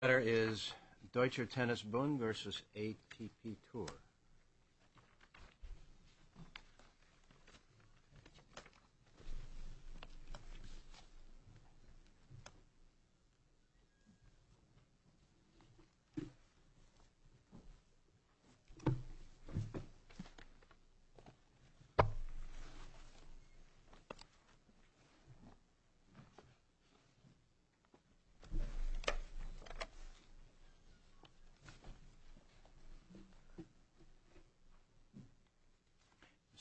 This letter is Deutscher Tennis Bund v. ATPTour.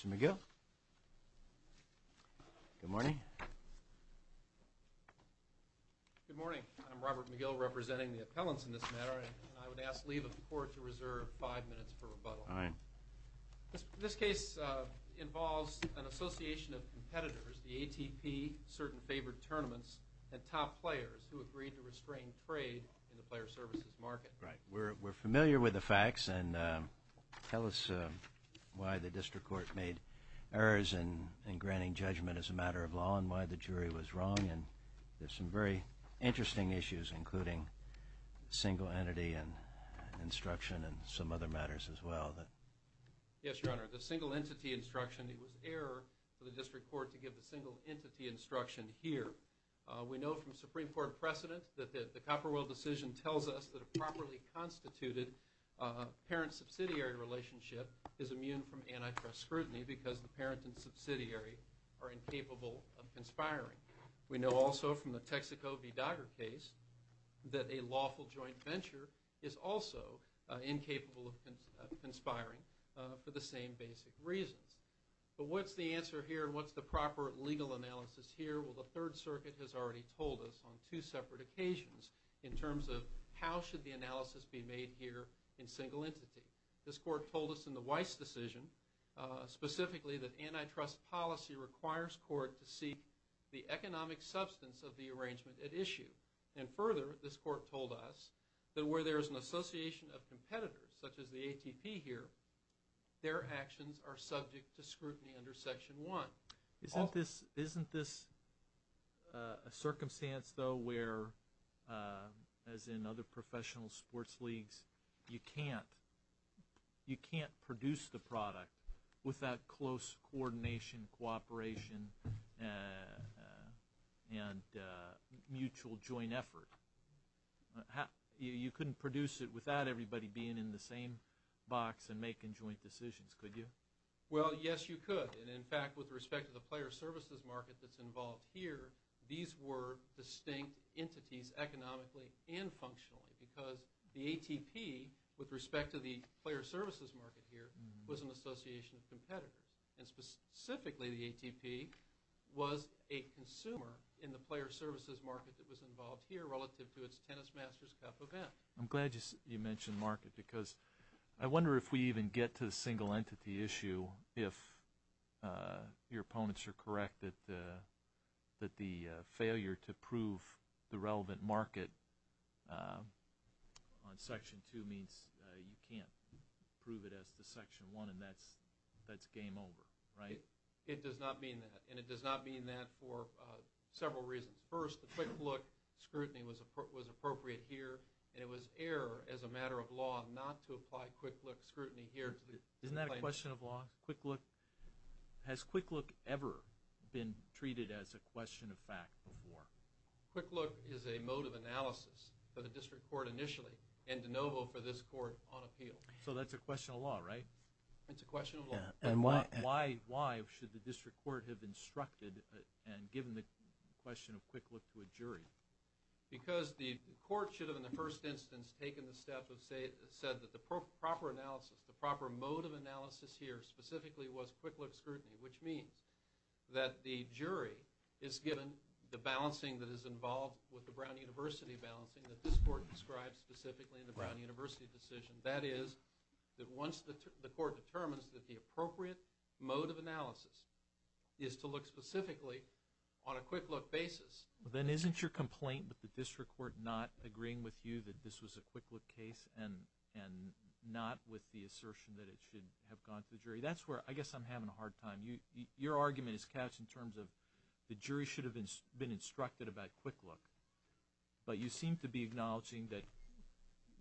Mr. McGill? Good morning. Good morning. I'm Robert McGill, representing the appellants in this matter, and I would ask leave of court to reserve five minutes for rebuttal. All right. This case involves an association of competitors, the ATP, certain favored tournaments, and top players who agreed to restrain trade in the player services market. Right. We're familiar with the facts, and tell us why the district court made errors in granting judgment as a matter of law and why the jury was wrong. And there's some very interesting issues, including single entity and instruction and some other matters as well. Yes, Your Honor. The single entity instruction, it was error for the district court to give the single entity instruction here. We know from Supreme Court precedent that the Copperwell decision tells us that a properly constituted parent-subsidiary relationship is immune from antitrust scrutiny because the parent and subsidiary are incapable of conspiring. We know also from the Texaco v. Dogger case that a lawful joint venture is also incapable of conspiring for the same basic reasons. But what's the answer here and what's the proper legal analysis here? Well, the Third Circuit has already told us on two separate occasions in terms of how should the analysis be made here in single entity. This court told us in the Weiss decision specifically that antitrust policy requires court to seek the economic substance of the arrangement at issue. And further, this court told us that where there is an association of competitors, such as the ATP here, their actions are subject to scrutiny under Section 1. Isn't this a circumstance, though, where, as in other professional sports leagues, you can't produce the product with that close coordination, cooperation, and mutual joint effort? You couldn't produce it without everybody being in the same box and making joint decisions, could you? Well, yes, you could. And, in fact, with respect to the player services market that's involved here, these were distinct entities economically and functionally because the ATP, with respect to the player services market here, was an association of competitors. And specifically, the ATP was a consumer in the player services market that was involved here relative to its Tennis Masters Cup event. I'm glad you mentioned market because I wonder if we even get to the single entity issue, if your opponents are correct that the failure to prove the relevant market on Section 2 means you can't prove it as to Section 1 and that's game over, right? It does not mean that. And it does not mean that for several reasons. First, the Quick Look scrutiny was appropriate here and it was error as a matter of law not to apply Quick Look scrutiny here. Isn't that a question of law? Has Quick Look ever been treated as a question of fact before? Quick Look is a mode of analysis for the district court initially and de novo for this court on appeal. So that's a question of law, right? It's a question of law. Why should the district court have instructed and given the question of Quick Look to a jury? Because the court should have, in the first instance, taken the step of saying that the proper analysis, the proper mode of analysis here specifically was Quick Look scrutiny, which means that the jury is given the balancing that is involved with the Brown University balancing that this court describes specifically in the Brown University decision. That is that once the court determines that the appropriate mode of analysis is to look specifically on a Quick Look basis. Then isn't your complaint with the district court not agreeing with you that this was a Quick Look case and not with the assertion that it should have gone to the jury? That's where I guess I'm having a hard time. Your argument is couched in terms of the jury should have been instructed about Quick Look, but you seem to be acknowledging that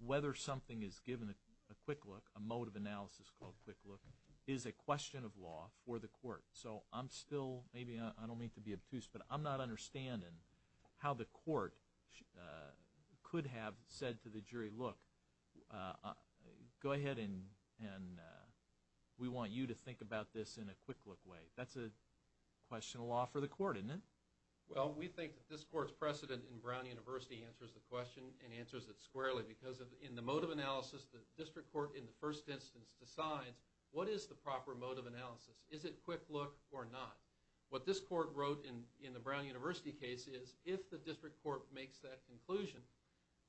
whether something is given a Quick Look, a mode of analysis called Quick Look, is a question of law for the court. So I'm still, maybe I don't mean to be obtuse, but I'm not understanding how the court could have said to the jury, look, go ahead and we want you to think about this in a Quick Look way. That's a question of law for the court, isn't it? Well, we think that this court's precedent in Brown University answers the question and answers it squarely because in the mode of analysis, the district court in the first instance decides what is the proper mode of analysis. Is it Quick Look or not? What this court wrote in the Brown University case is if the district court makes that conclusion,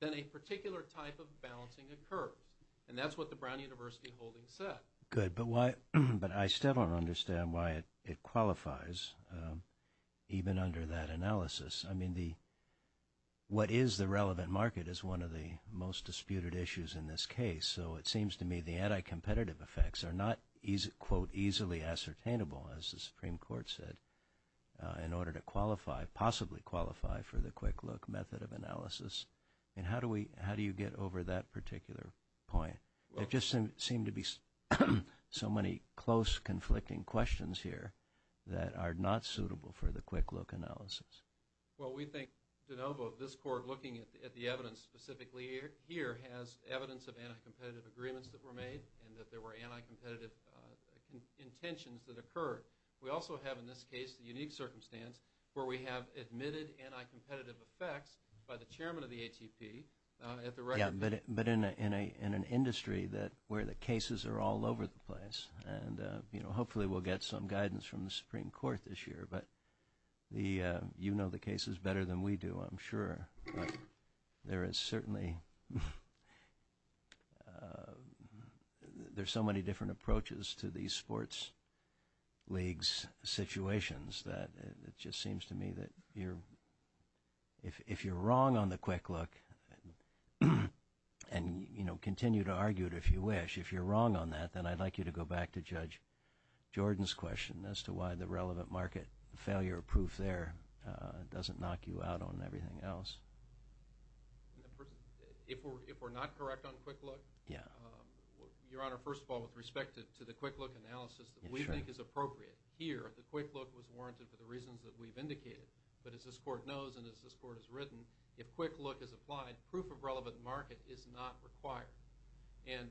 then a particular type of balancing occurs. And that's what the Brown University holding said. Good, but I still don't understand why it qualifies even under that analysis. I mean, what is the relevant market is one of the most disputed issues in this case. So it seems to me the anti-competitive effects are not, quote, easily ascertainable, as the Supreme Court said, in order to qualify, possibly qualify for the Quick Look method of analysis. And how do you get over that particular point? There just seem to be so many close, conflicting questions here that are not suitable for the Quick Look analysis. Well, we think, DeNovo, this court, looking at the evidence specifically here, has evidence of anti-competitive agreements that were made and that there were anti-competitive intentions that occurred. We also have, in this case, the unique circumstance where we have admitted anti-competitive effects by the chairman of the ATP. Yeah, but in an industry where the cases are all over the place. And, you know, hopefully we'll get some guidance from the Supreme Court this year. But you know the cases better than we do, I'm sure. But there is certainly— there's so many different approaches to these sports leagues' situations that it just seems to me that you're— if you're wrong on the Quick Look, and, you know, continue to argue it if you wish, if you're wrong on that, then I'd like you to go back to Judge Jordan's question as to why the relevant market failure proof there doesn't knock you out on everything else. If we're not correct on Quick Look? Yeah. Your Honor, first of all, with respect to the Quick Look analysis, we think it's appropriate here. The Quick Look was warranted for the reasons that we've indicated. But as this Court knows and as this Court has written, if Quick Look is applied, proof of relevant market is not required. And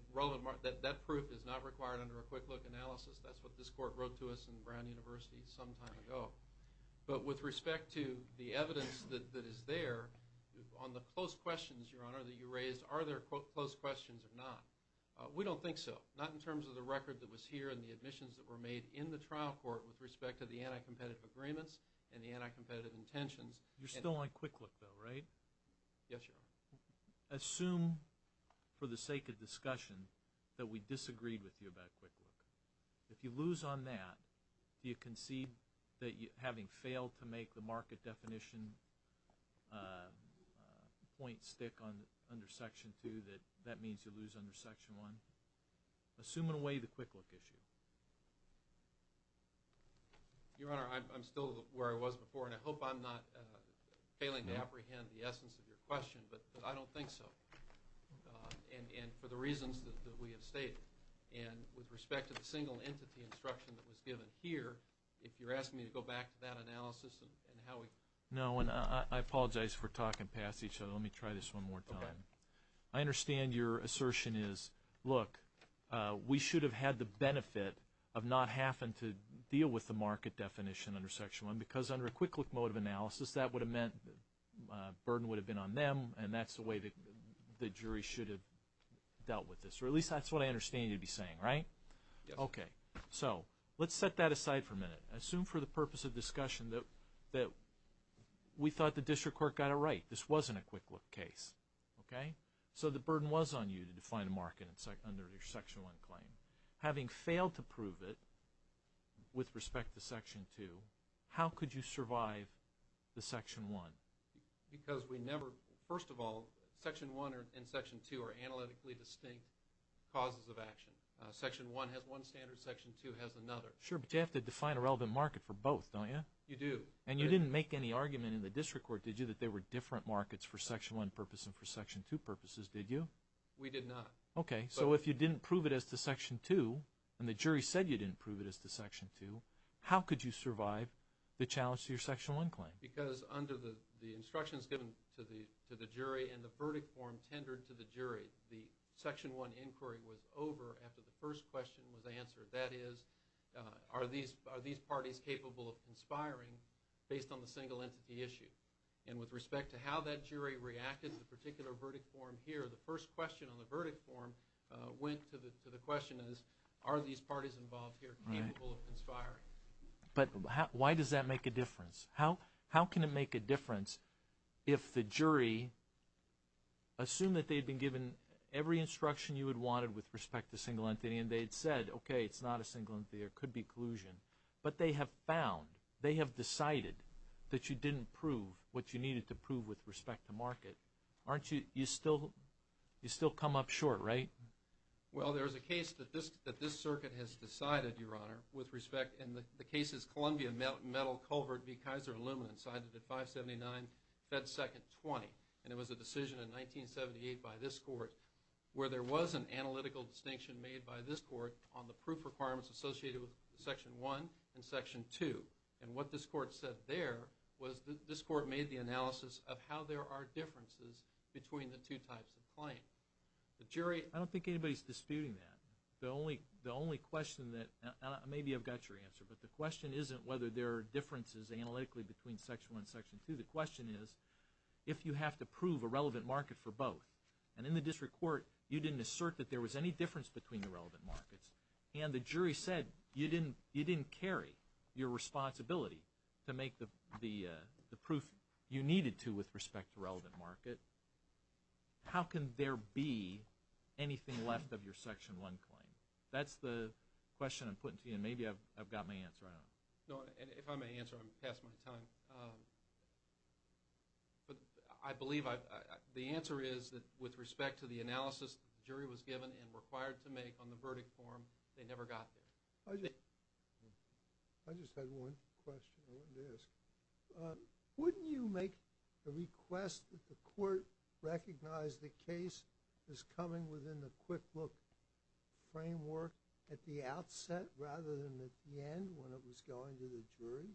that proof is not required under a Quick Look analysis. That's what this Court wrote to us in Brown University some time ago. But with respect to the evidence that is there on the close questions, Your Honor, that you raised, are there close questions or not? We don't think so. Not in terms of the record that was here and the admissions that were made in the trial court with respect to the anti-competitive agreements and the anti-competitive intentions. You're still on Quick Look, though, right? Yes, Your Honor. Assume for the sake of discussion that we disagreed with you about Quick Look. If you lose on that, do you concede that having failed to make the market definition point stick under Section 2, that that means you lose under Section 1? Assume in a way the Quick Look issue. Your Honor, I'm still where I was before, and I hope I'm not failing to apprehend the essence of your question, but I don't think so. And for the reasons that we have stated. And with respect to the single entity instruction that was given here, if you're asking me to go back to that analysis and how we No, and I apologize for talking past each other. Let me try this one more time. I understand your assertion is, look, we should have had the benefit of not having to deal with the market definition under Section 1 because under a Quick Look mode of analysis, that would have meant the burden would have been on them, and that's the way the jury should have dealt with this. Or at least that's what I understand you to be saying, right? Yes. Okay. So let's set that aside for a minute. Assume for the purpose of discussion that we thought the district court got it right. This wasn't a Quick Look case. Okay? So the burden was on you to define a market under your Section 1 claim. Having failed to prove it with respect to Section 2, how could you survive the Section 1? Because we never, first of all, Section 1 and Section 2 are analytically distinct causes of action. Section 1 has one standard. Section 2 has another. Sure, but you have to define a relevant market for both, don't you? You do. And you didn't make any argument in the district court, did you, that there were different markets for Section 1 purposes and for Section 2 purposes, did you? We did not. Okay. So if you didn't prove it as to Section 2 and the jury said you didn't prove it as to Section 2, how could you survive the challenge to your Section 1 claim? Because under the instructions given to the jury and the verdict form tendered to the jury, the Section 1 inquiry was over after the first question was answered. That is, are these parties capable of conspiring based on the single entity issue? And with respect to how that jury reacted to the particular verdict form here, the first question on the verdict form went to the question is, are these parties involved here capable of conspiring? But why does that make a difference? How can it make a difference if the jury assumed that they had been given every instruction you had wanted with respect to single entity and they had said, okay, it's not a single entity. There could be collusion. But they have found, they have decided that you didn't prove what you needed to prove with respect to market. Aren't you, you still, you still come up short, right? Well, there is a case that this circuit has decided, Your Honor, with respect, and the case is Columbia Metal Culvert v. Kaiser Aluminum, cited at 579 Fed Second 20. And it was a decision in 1978 by this court where there was an analytical distinction made by this court on the proof requirements associated with Section 1 and Section 2. And what this court said there was this court made the analysis of how there are differences between the two types of claim. The jury, I don't think anybody is disputing that. The only, the only question that, maybe I've got your answer, but the question isn't whether there are differences analytically between Section 1 and Section 2. The question is if you have to prove a relevant market for both. And in the district court, you didn't assert that there was any difference between the relevant markets. And the jury said you didn't carry your responsibility to make the proof you needed to with respect to relevant market. How can there be anything left of your Section 1 claim? That's the question I'm putting to you, and maybe I've got my answer. If I may answer, I'm past my time. But I believe the answer is that with respect to the analysis the jury was given and required to make on the verdict form, they never got there. I just had one question I wanted to ask. Wouldn't you make a request that the court recognize the case is coming within the Quick Look framework at the outset rather than at the end when it was going to the jury?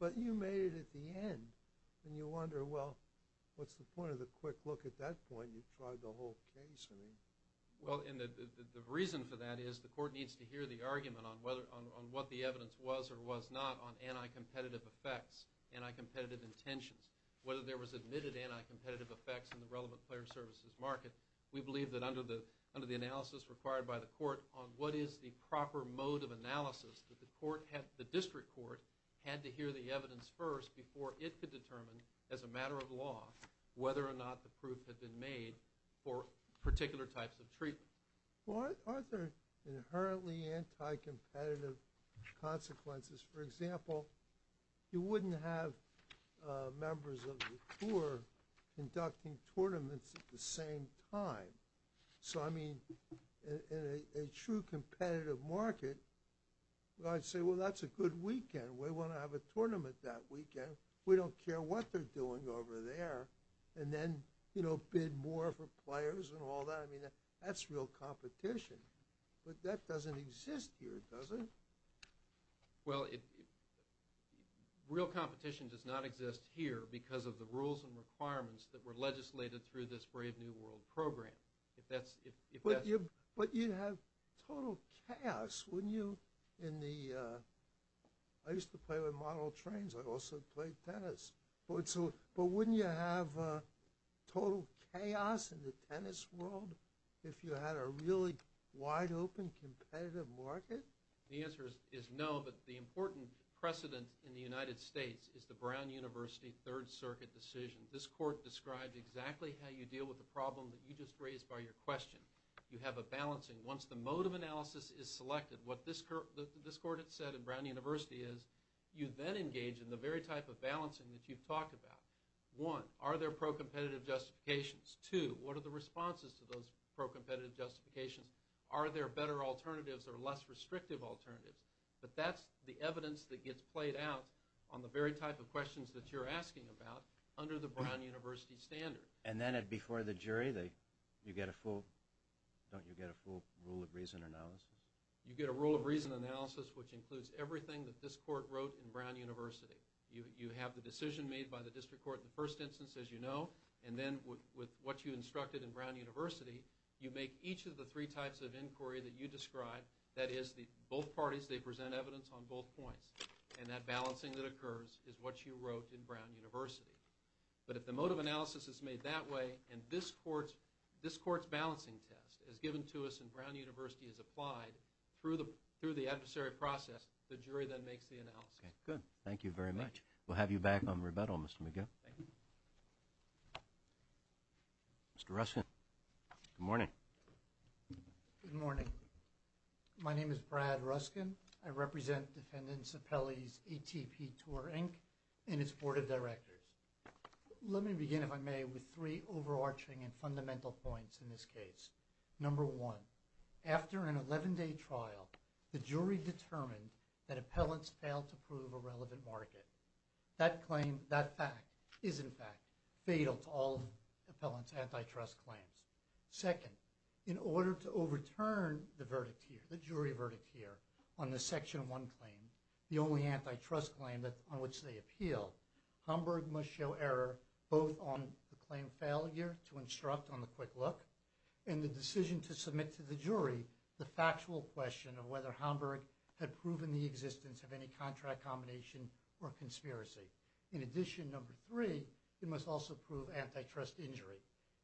But you made it at the end, and you wonder, well, what's the point of the Quick Look at that point? You've tried the whole case, I mean. Well, and the reason for that is the court needs to hear the argument on what the evidence was or was not on anti-competitive effects, anti-competitive intentions. Whether there was admitted anti-competitive effects in the relevant player services market, we believe that under the analysis required by the court on what is the proper mode of analysis, that the district court had to hear the evidence first before it could determine as a matter of law whether or not the proof had been made for particular types of treatment. Well, aren't there inherently anti-competitive consequences? For example, you wouldn't have members of the court conducting tournaments at the same time. So, I mean, in a true competitive market, I'd say, well, that's a good weekend. We want to have a tournament that weekend. We don't care what they're doing over there, and then bid more for players and all that. I mean, that's real competition. But that doesn't exist here, does it? Well, real competition does not exist here because of the rules and requirements that were legislated through this Brave New World program. But you'd have total chaos, wouldn't you, in the – I used to play with model trains. I also played tennis. But wouldn't you have total chaos in the tennis world if you had a really wide-open competitive market? The answer is no, but the important precedent in the United States is the Brown University Third Circuit decision. This court described exactly how you deal with the problem that you just raised by your question. You have a balancing. Once the mode of analysis is selected, what this court had said in Brown University is you then engage in the very type of balancing that you've talked about. One, are there pro-competitive justifications? Two, what are the responses to those pro-competitive justifications? Are there better alternatives or less restrictive alternatives? But that's the evidence that gets played out on the very type of questions that you're asking about under the Brown University standard. And then before the jury, don't you get a full rule of reason analysis? You get a rule of reason analysis, which includes everything that this court wrote in Brown University. You have the decision made by the district court in the first instance, as you know, and then with what you instructed in Brown University, you make each of the three types of inquiry that you described. That is, both parties present evidence on both points, and that balancing that occurs is what you wrote in Brown University. But if the mode of analysis is made that way, and this court's balancing test is given to us and Brown University has applied through the adversary process, the jury then makes the analysis. Okay, good. Thank you very much. We'll have you back on rebuttal, Mr. McGill. Thank you. Mr. Ruskin, good morning. Good morning. My name is Brad Ruskin. I represent defendants' appellees, ATP Tour, Inc., and its board of directors. Let me begin, if I may, with three overarching and fundamental points in this case. Number one, after an 11-day trial, the jury determined that appellants failed to prove a relevant market. That claim, that fact, is in fact fatal to all appellants' antitrust claims. Second, in order to overturn the verdict here, the jury verdict here, on the Section 1 claim, the only antitrust claim on which they appeal, Hamburg must show error both on the claim failure to instruct on the quick look, and the decision to submit to the jury the factual question of whether Hamburg had proven the existence of any contract combination or conspiracy. In addition, number three, it must also prove antitrust injury.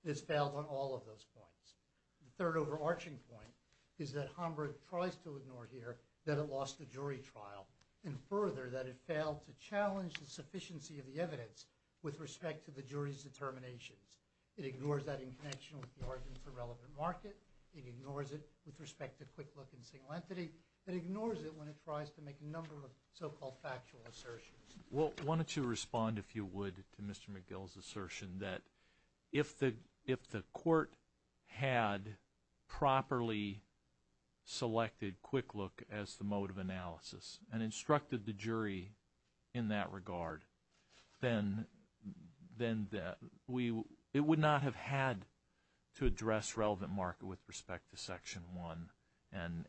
It has failed on all of those points. The third overarching point is that Hamburg tries to ignore here that it lost the jury trial, and further, that it failed to challenge the sufficiency of the evidence with respect to the jury's determinations. It ignores that in connection with the argument for relevant market. It ignores it with respect to quick look and single entity. It ignores it when it tries to make a number of so-called factual assertions. Well, why don't you respond, if you would, to Mr. McGill's assertion that if the court had properly selected quick look as the mode of analysis and instructed the jury in that regard, then it would not have had to address relevant market with respect to Section 1,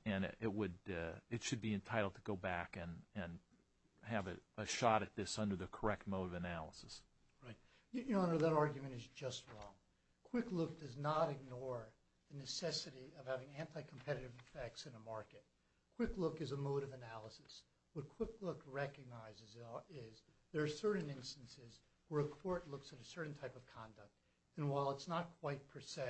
and it should be entitled to go back and have a shot at this under the correct mode of analysis. Right. Your Honor, that argument is just wrong. Quick look does not ignore the necessity of having anti-competitive effects in a market. Quick look is a mode of analysis. What quick look recognizes is there are certain instances where a court looks at a certain type of conduct, and while it's not quite per se,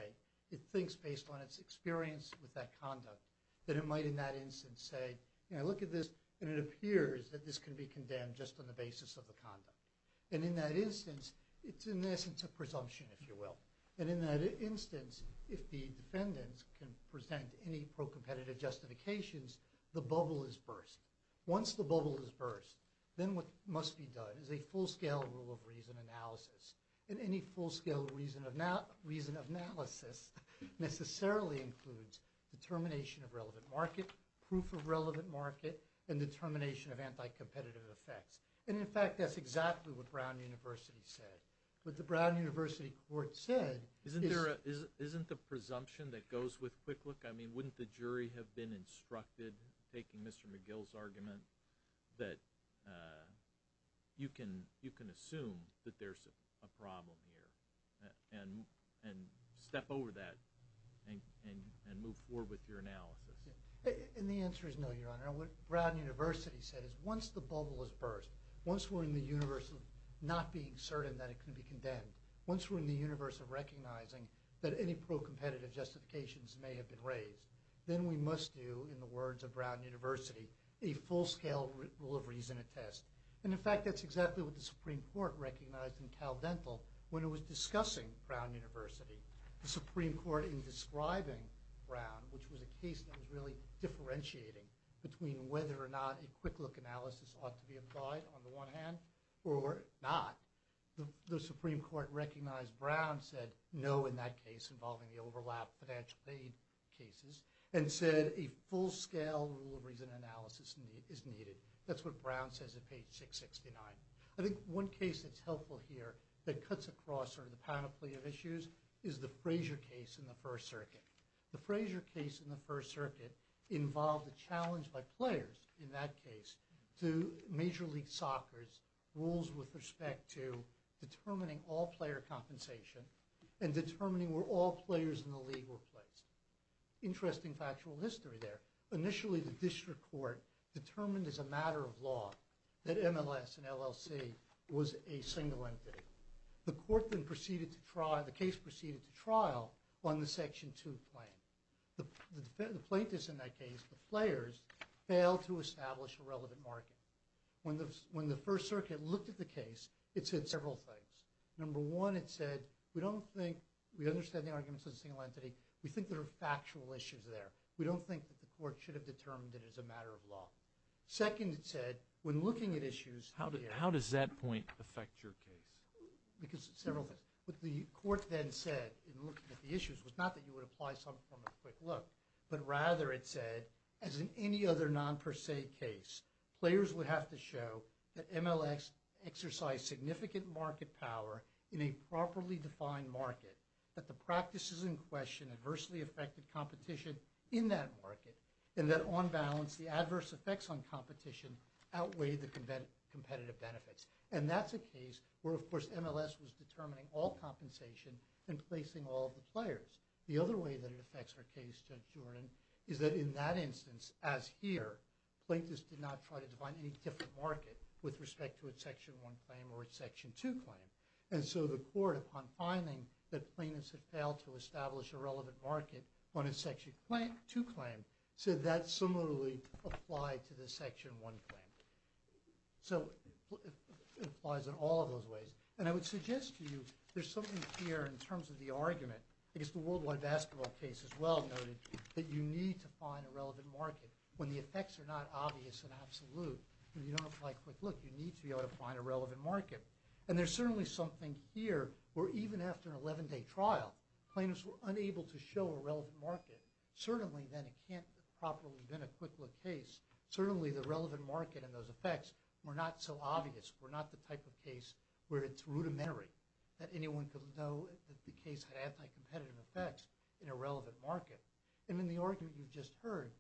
it thinks based on its experience with that conduct that it might in that instance say, you know, look at this, and it appears that this can be condemned just on the basis of the conduct. And in that instance, it's in essence a presumption, if you will. And in that instance, if the defendants can present any pro-competitive justifications, the bubble is burst. Once the bubble is burst, then what must be done is a full-scale rule of reason analysis. And any full-scale reason analysis necessarily includes determination of relevant market, proof of relevant market, and determination of anti-competitive effects. And in fact, that's exactly what Brown University said. What the Brown University court said is... Isn't there a presumption that goes with quick look? I mean, wouldn't the jury have been instructed, taking Mr. McGill's argument, that you can assume that there's a problem here and step over that and move forward with your analysis? And the answer is no, Your Honor. What Brown University said is once the bubble is burst, once we're in the universe of not being certain that it can be condemned, once we're in the universe of recognizing that any pro-competitive justifications may have been raised, then we must do, in the words of Brown University, a full-scale rule of reason attest. And in fact, that's exactly what the Supreme Court recognized in Cal Dental when it was discussing Brown University. The Supreme Court, in describing Brown, which was a case that was really differentiating between whether or not a quick look analysis ought to be applied on the one hand or not, the Supreme Court recognized Brown said no in that case involving the overlap financial aid cases and said a full-scale rule of reason analysis is needed. That's what Brown says at page 669. I think one case that's helpful here that cuts across sort of the panoply of issues is the Frazier case in the First Circuit. The Frazier case in the First Circuit involved a challenge by players in that case to Major League Soccer's rules with respect to determining all-player compensation and determining where all players in the league were placed. Interesting factual history there. Initially, the district court determined as a matter of law that MLS and LLC was a single entity. The court then proceeded to trial, the case proceeded to trial on the Section 2 claim. The plaintiffs in that case, the players, failed to establish a relevant market. When the First Circuit looked at the case, it said several things. Number one, it said we don't think we understand the arguments of the single entity. We think there are factual issues there. We don't think that the court should have determined it as a matter of law. Second, it said when looking at issues— How does that point affect your case? Because several things. What the court then said in looking at the issues was not that you would apply some form of quick look, but rather it said, as in any other non-per se case, players would have to show that MLS exercised significant market power in a properly defined market, that the practices in question adversely affected competition in that market, and that on balance, the adverse effects on competition outweighed the competitive benefits. And that's a case where, of course, MLS was determining all compensation and placing all of the players. The other way that it affects our case, Judge Jordan, is that in that instance, as here, plaintiffs did not try to define any different market with respect to a Section 1 claim or a Section 2 claim. And so the court, upon finding that plaintiffs had failed to establish a relevant market on a Section 2 claim, said that similarly applied to the Section 1 claim. So it applies in all of those ways. And I would suggest to you there's something here in terms of the argument. I guess the worldwide basketball case as well noted that you need to find a relevant market when the effects are not obvious and absolute. When you don't apply quick look, you need to be able to find a relevant market. And there's certainly something here where even after an 11-day trial, plaintiffs were unable to show a relevant market. Certainly then it can't properly have been a quick look case. Certainly the relevant market and those effects were not so obvious, were not the type of case where it's rudimentary that anyone could know that the case had anti-competitive effects in a relevant market. And in the argument you've just heard,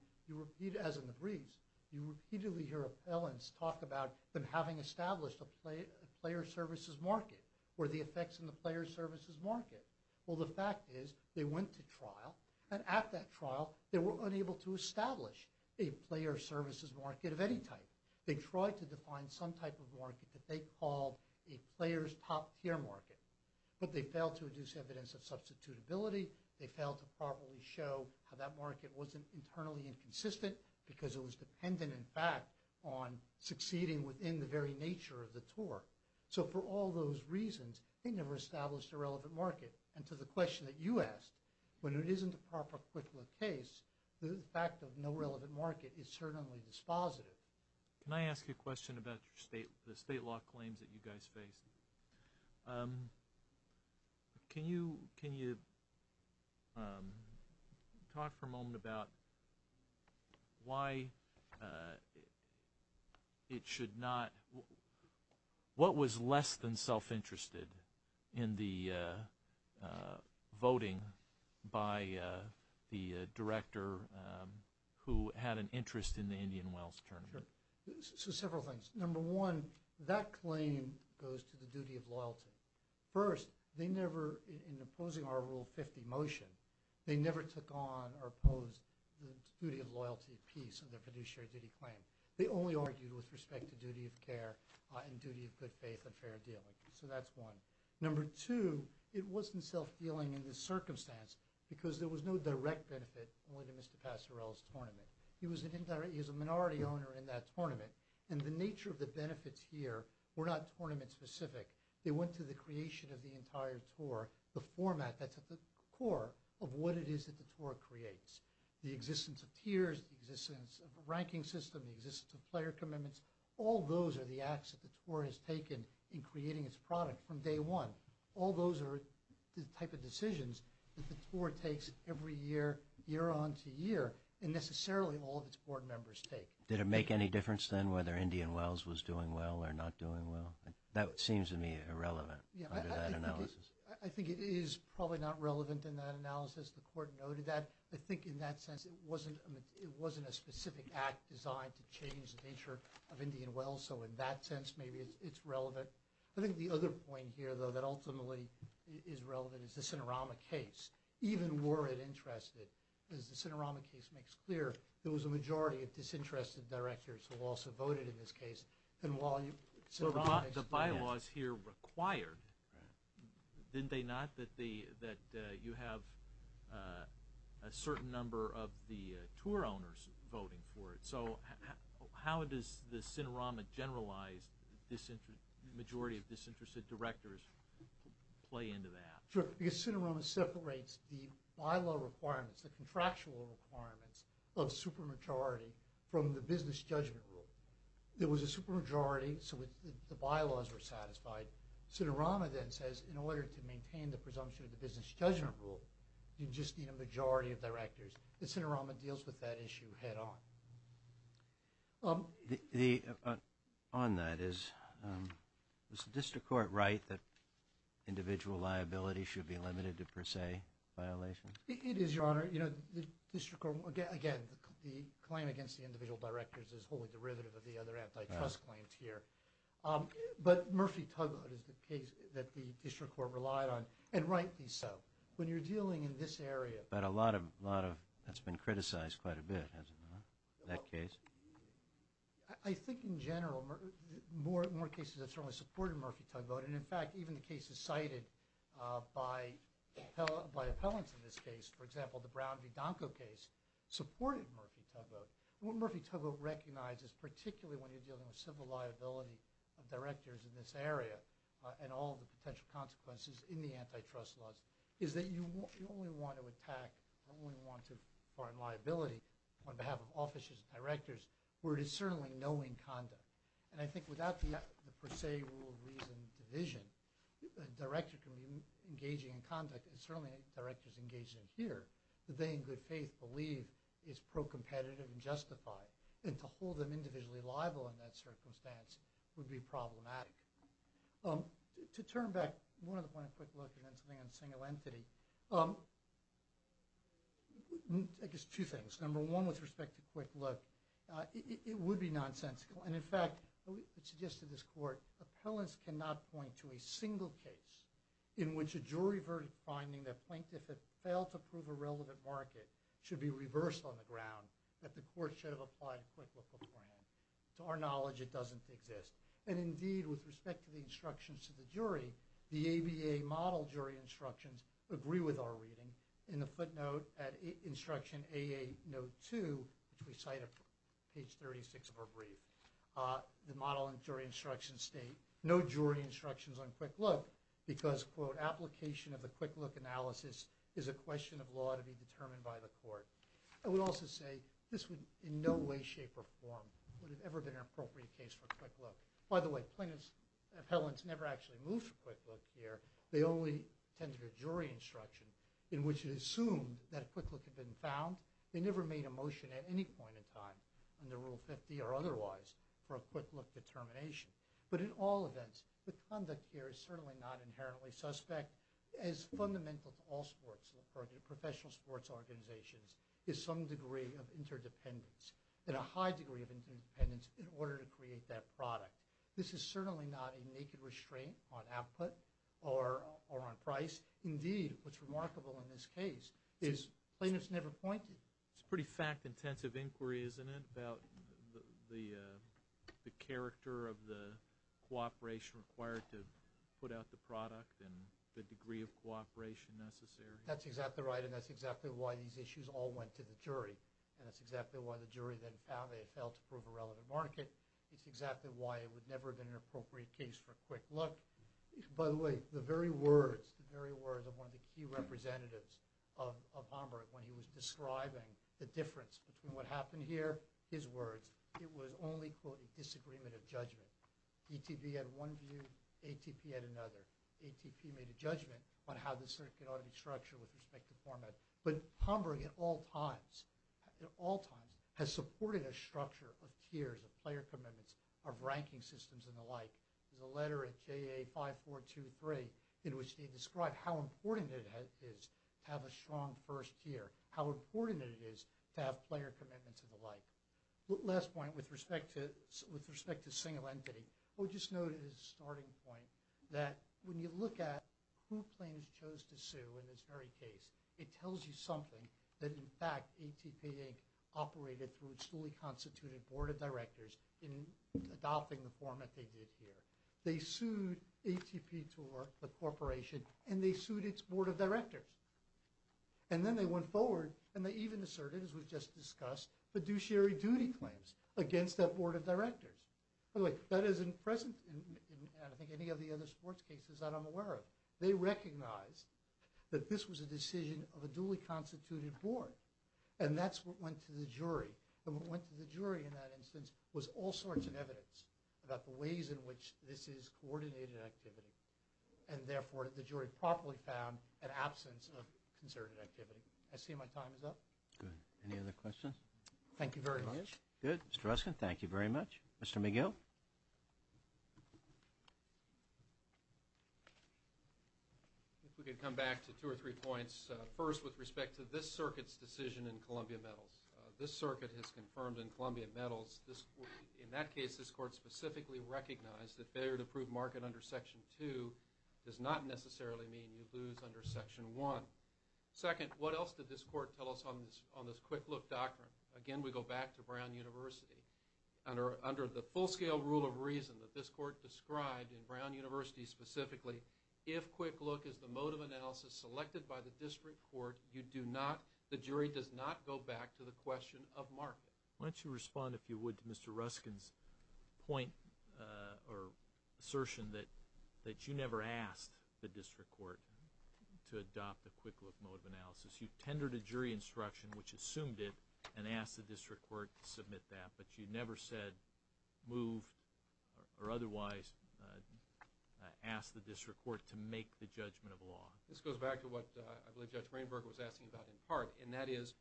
as in the briefs, you repeatedly hear appellants talk about them having established a player services market or the effects in the player services market. Well, the fact is they went to trial and at that trial they were unable to establish a player services market of any type. They tried to define some type of market that they called a player's top tier market. But they failed to produce evidence of substitutability. They failed to properly show how that market wasn't internally inconsistent because it was dependent, in fact, on succeeding within the very nature of the tour. So for all those reasons, they never established a relevant market. And to the question that you asked, when it isn't a proper quick look case, the fact of no relevant market is certainly dispositive. Can I ask you a question about the state law claims that you guys faced? Thank you. Can you talk for a moment about why it should not – what was less than self-interested in the voting by the director who had an interest in the Indian Wells tournament? Sure. So several things. Number one, that claim goes to the duty of loyalty. First, they never – in opposing our Rule 50 motion, they never took on or opposed the duty of loyalty piece of their fiduciary duty claim. They only argued with respect to duty of care and duty of good faith and fair dealing. So that's one. Number two, it wasn't self-dealing in this circumstance because there was no direct benefit only to Mr. Passerell's tournament. He was a minority owner in that tournament and the nature of the benefits here were not tournament-specific. They went to the creation of the entire tour, the format that's at the core of what it is that the tour creates, the existence of tiers, the existence of a ranking system, the existence of player commitments. All those are the acts that the tour has taken in creating its product from day one. All those are the type of decisions that the tour takes every year, year on to year, and necessarily all of its board members take. Did it make any difference then whether Indian Wells was doing well or not doing well? That seems to me irrelevant under that analysis. I think it is probably not relevant in that analysis. The Court noted that. I think in that sense it wasn't a specific act designed to change the nature of Indian Wells, so in that sense maybe it's relevant. I think the other point here, though, that ultimately is relevant is the Sinorama case. Even were it interested, as the Sinorama case makes clear, there was a majority of disinterested directors who also voted in this case. The bylaws here required, didn't they not, that you have a certain number of the tour owners voting for it? So how does the Sinorama generalized majority of disinterested directors play into that? Because Sinorama separates the bylaw requirements, the contractual requirements of supermajority from the business judgment rule. There was a supermajority, so the bylaws were satisfied. Sinorama then says in order to maintain the presumption of the business judgment rule, you just need a majority of directors. The Sinorama deals with that issue head on. On that, is the District Court right that individual liability should be limited to per se violations? It is, Your Honor. The District Court, again, the claim against the individual directors is wholly derivative of the other antitrust claims here. But Murphy-Tugboat is the case that the District Court relied on, and rightly so. When you're dealing in this area. But a lot of that's been criticized quite a bit, hasn't it, in that case? I think in general, more cases have certainly supported Murphy-Tugboat, and, in fact, even the cases cited by appellants in this case, for example, the Brown v. Donko case, supported Murphy-Tugboat. What Murphy-Tugboat recognizes, particularly when you're dealing with civil liability of directors in this area and all the potential consequences in the antitrust laws, is that you only want to attack or only want to find liability on behalf of offices and directors where it is certainly knowing conduct. And I think without the per se rule of reason division, a director can be engaging in conduct, and certainly directors engaged in here, that they, in good faith, believe is pro-competitive and justified. And to hold them individually liable in that circumstance would be problematic. To turn back, one other point, a quick look, and then something on single entity. I guess two things. Number one, with respect to quick look, it would be nonsensical. And, in fact, it suggests to this court, appellants cannot point to a single case in which a jury verdict finding that plaintiff had failed to prove a relevant market should be reversed on the ground that the court should have applied a quick look beforehand. To our knowledge, it doesn't exist. And, indeed, with respect to the instructions to the jury, the ABA model jury instructions agree with our reading. In the footnote at instruction AA note 2, which we cite at page 36 of our brief, the model and jury instructions state, no jury instructions on quick look because, quote, application of the quick look analysis is a question of law to be determined by the court. I would also say this would in no way, shape, or form would have ever been an appropriate case for quick look. By the way, plaintiff's appellants never actually moved for quick look here. They only attended a jury instruction in which it assumed that a quick look had been found. They never made a motion at any point in time under Rule 50 or otherwise for a quick look determination. But, in all events, the conduct here is certainly not inherently suspect as fundamental to all sports, professional sports organizations, is some degree of interdependence, and a high degree of interdependence in order to create that product. This is certainly not a naked restraint on output or on price. Indeed, what's remarkable in this case is plaintiff's never pointed. It's a pretty fact-intensive inquiry, isn't it, about the character of the cooperation required to put out the product and the degree of cooperation necessary. That's exactly right, and that's exactly why these issues all went to the jury. And that's exactly why the jury then found they had failed to prove a relevant market. It's exactly why it would never have been an appropriate case for a quick look. By the way, the very words, the very words of one of the key representatives of Homburg when he was describing the difference between what happened here, his words, it was only, quote, a disagreement of judgment. DTV had one view, ATP had another. ATP made a judgment on how the circuit ought to be structured with respect to format. But Homburg at all times, at all times, has supported a structure of tiers, of player commitments, of ranking systems and the like. There's a letter at JA 5423 in which they describe how important it is to have a strong first tier, how important it is to have player commitments and the like. Last point with respect to single entity. We'll just note as a starting point that when you look at who plaintiffs chose to sue in this very case, it tells you something that in fact ATP Inc. operated through its fully constituted board of directors in adopting the format they did here. They sued ATP to the corporation and they sued its board of directors. And then they went forward and they even asserted, as we've just discussed, fiduciary duty claims against that board of directors. By the way, that isn't present in I think any of the other sports cases that I'm aware of. They recognized that this was a decision of a duly constituted board. And that's what went to the jury. And what went to the jury in that instance was all sorts of evidence about the ways in which this is coordinated activity. And therefore the jury properly found an absence of concerted activity. I see my time is up. Good. Any other questions? Thank you very much. Good. Mr. Ruskin, thank you very much. Mr. McGill? If we could come back to two or three points. First, with respect to this circuit's decision in Columbia Metals. This circuit has confirmed in Columbia Metals, in that case, this court specifically recognized that failure to prove market under Section 2 does not necessarily mean you lose under Section 1. Second, what else did this court tell us on this quick look doctrine? Again, we go back to Brown University. Under the full scale rule of reason that this court described in Brown University specifically, if quick look is the mode of analysis selected by the district court, the jury does not go back to the question of market. Why don't you respond, if you would, to Mr. Ruskin's point or assertion that you never asked the district court to adopt the quick look mode of analysis. You tendered a jury instruction, which assumed it, and asked the district court to submit that. But you never said move or otherwise ask the district court to make the judgment of law. This goes back to what I believe Judge Rainberger was asking about in part, and that is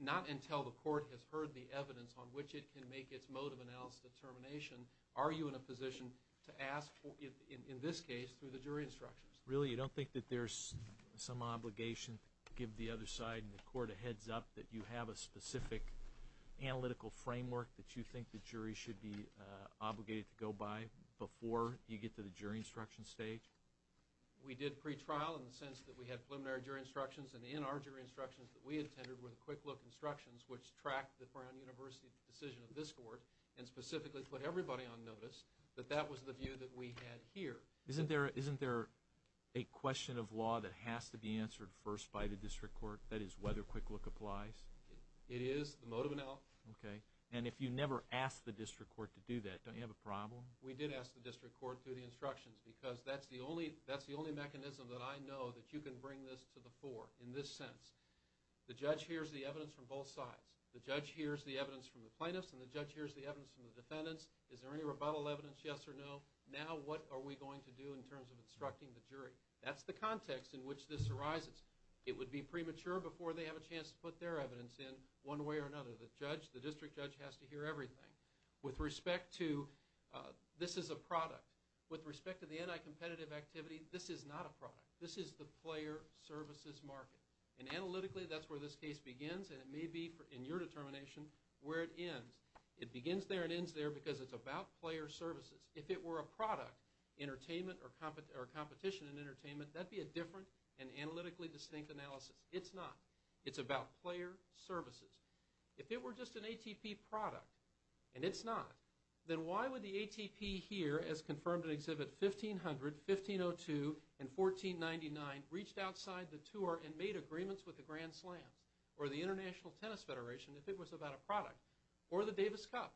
not until the court has heard the evidence on which it can make its mode of analysis determination are you in a position to ask, in this case, through the jury instructions. Really, you don't think that there's some obligation to give the other side in the court a heads up that you have a specific analytical framework that you think the jury should be obligated to go by before you get to the jury instruction stage? We did pretrial in the sense that we had preliminary jury instructions, and in our jury instructions that we attended were the quick look instructions, which tracked the Brown University decision of this court, and specifically put everybody on notice that that was the view that we had here. Isn't there a question of law that has to be answered first by the district court? That is, whether quick look applies? It is the mode of analysis. Okay, and if you never asked the district court to do that, don't you have a problem? We did ask the district court through the instructions, because that's the only mechanism that I know that you can bring this to the fore in this sense. The judge hears the evidence from both sides. The judge hears the evidence from the plaintiffs, and the judge hears the evidence from the defendants. Is there any rebuttal evidence, yes or no? Now what are we going to do in terms of instructing the jury? That's the context in which this arises. It would be premature before they have a chance to put their evidence in one way or another. The district judge has to hear everything. With respect to this is a product, with respect to the anti-competitive activity, this is not a product. This is the player services market, and analytically that's where this case begins, and it may be in your determination where it ends. It begins there and ends there because it's about player services. If it were a product, entertainment or competition in entertainment, that would be a different and analytically distinct analysis. It's not. It's about player services. If it were just an ATP product, and it's not, then why would the ATP here, as confirmed in Exhibit 1500, 1502 and 1499, reached outside the tour and made agreements with the Grand Slams or the International Tennis Federation if it was about a product, or the Davis Cup?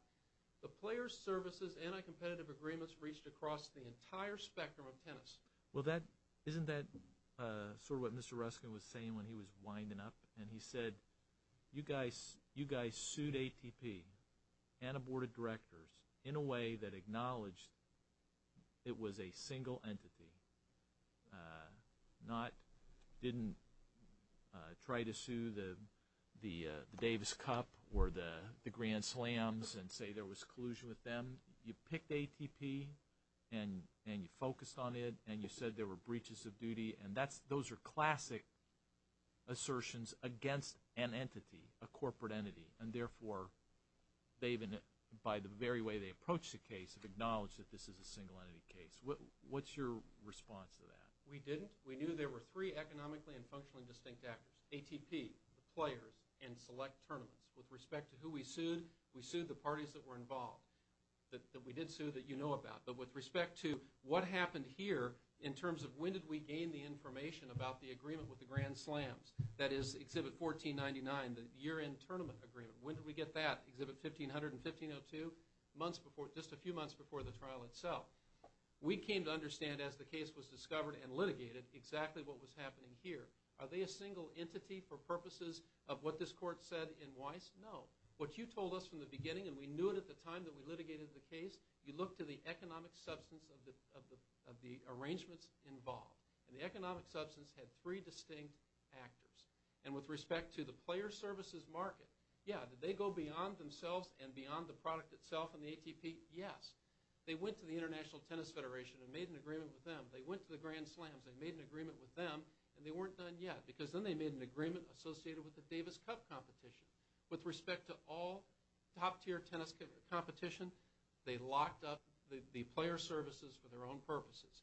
The player services anti-competitive agreements reached across the entire spectrum of tennis. Well, isn't that sort of what Mr. Ruskin was saying when he was winding up? And he said, you guys sued ATP and a board of directors in a way that acknowledged it was a single entity, didn't try to sue the Davis Cup or the Grand Slams and say there was collusion with them. You picked ATP, and you focused on it, and you said there were breaches of duty, and those are classic assertions against an entity, a corporate entity, and therefore, by the very way they approached the case, have acknowledged that this is a single entity case. What's your response to that? We didn't. We knew there were three economically and functionally distinct actors, ATP, the players, and select tournaments. With respect to who we sued, we sued the parties that were involved, that we did sue that you know about. But with respect to what happened here in terms of when did we gain the information about the agreement with the Grand Slams, that is Exhibit 1499, the year-end tournament agreement, when did we get that, Exhibit 1500 and 1502? Just a few months before the trial itself. We came to understand as the case was discovered and litigated exactly what was happening here. Are they a single entity for purposes of what this court said in Weiss? No. What you told us from the beginning, and we knew it at the time that we litigated the case, you look to the economic substance of the arrangements involved. And the economic substance had three distinct actors. And with respect to the player services market, yeah, did they go beyond themselves and beyond the product itself and the ATP? Yes. They went to the International Tennis Federation and made an agreement with them. They went to the Grand Slams, they made an agreement with them, and they weren't done yet. Because then they made an agreement associated with the Davis Cup competition. With respect to all top-tier tennis competition, they locked up the player services for their own purposes.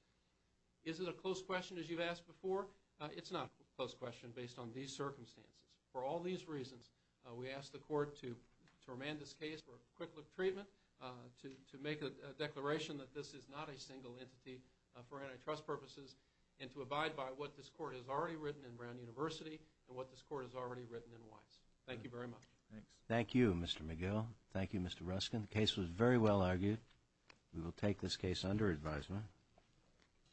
Is it a close question as you've asked before? It's not a close question based on these circumstances. For all these reasons, we asked the court to remand this case for a quick look treatment, to make a declaration that this is not a single entity for antitrust purposes, and to abide by what this court has already written in Brown University and what this court has already written in Weiss. Thank you very much. Thank you, Mr. McGill. Thank you, Mr. Ruskin. The case was very well argued. We will take this case under advisement.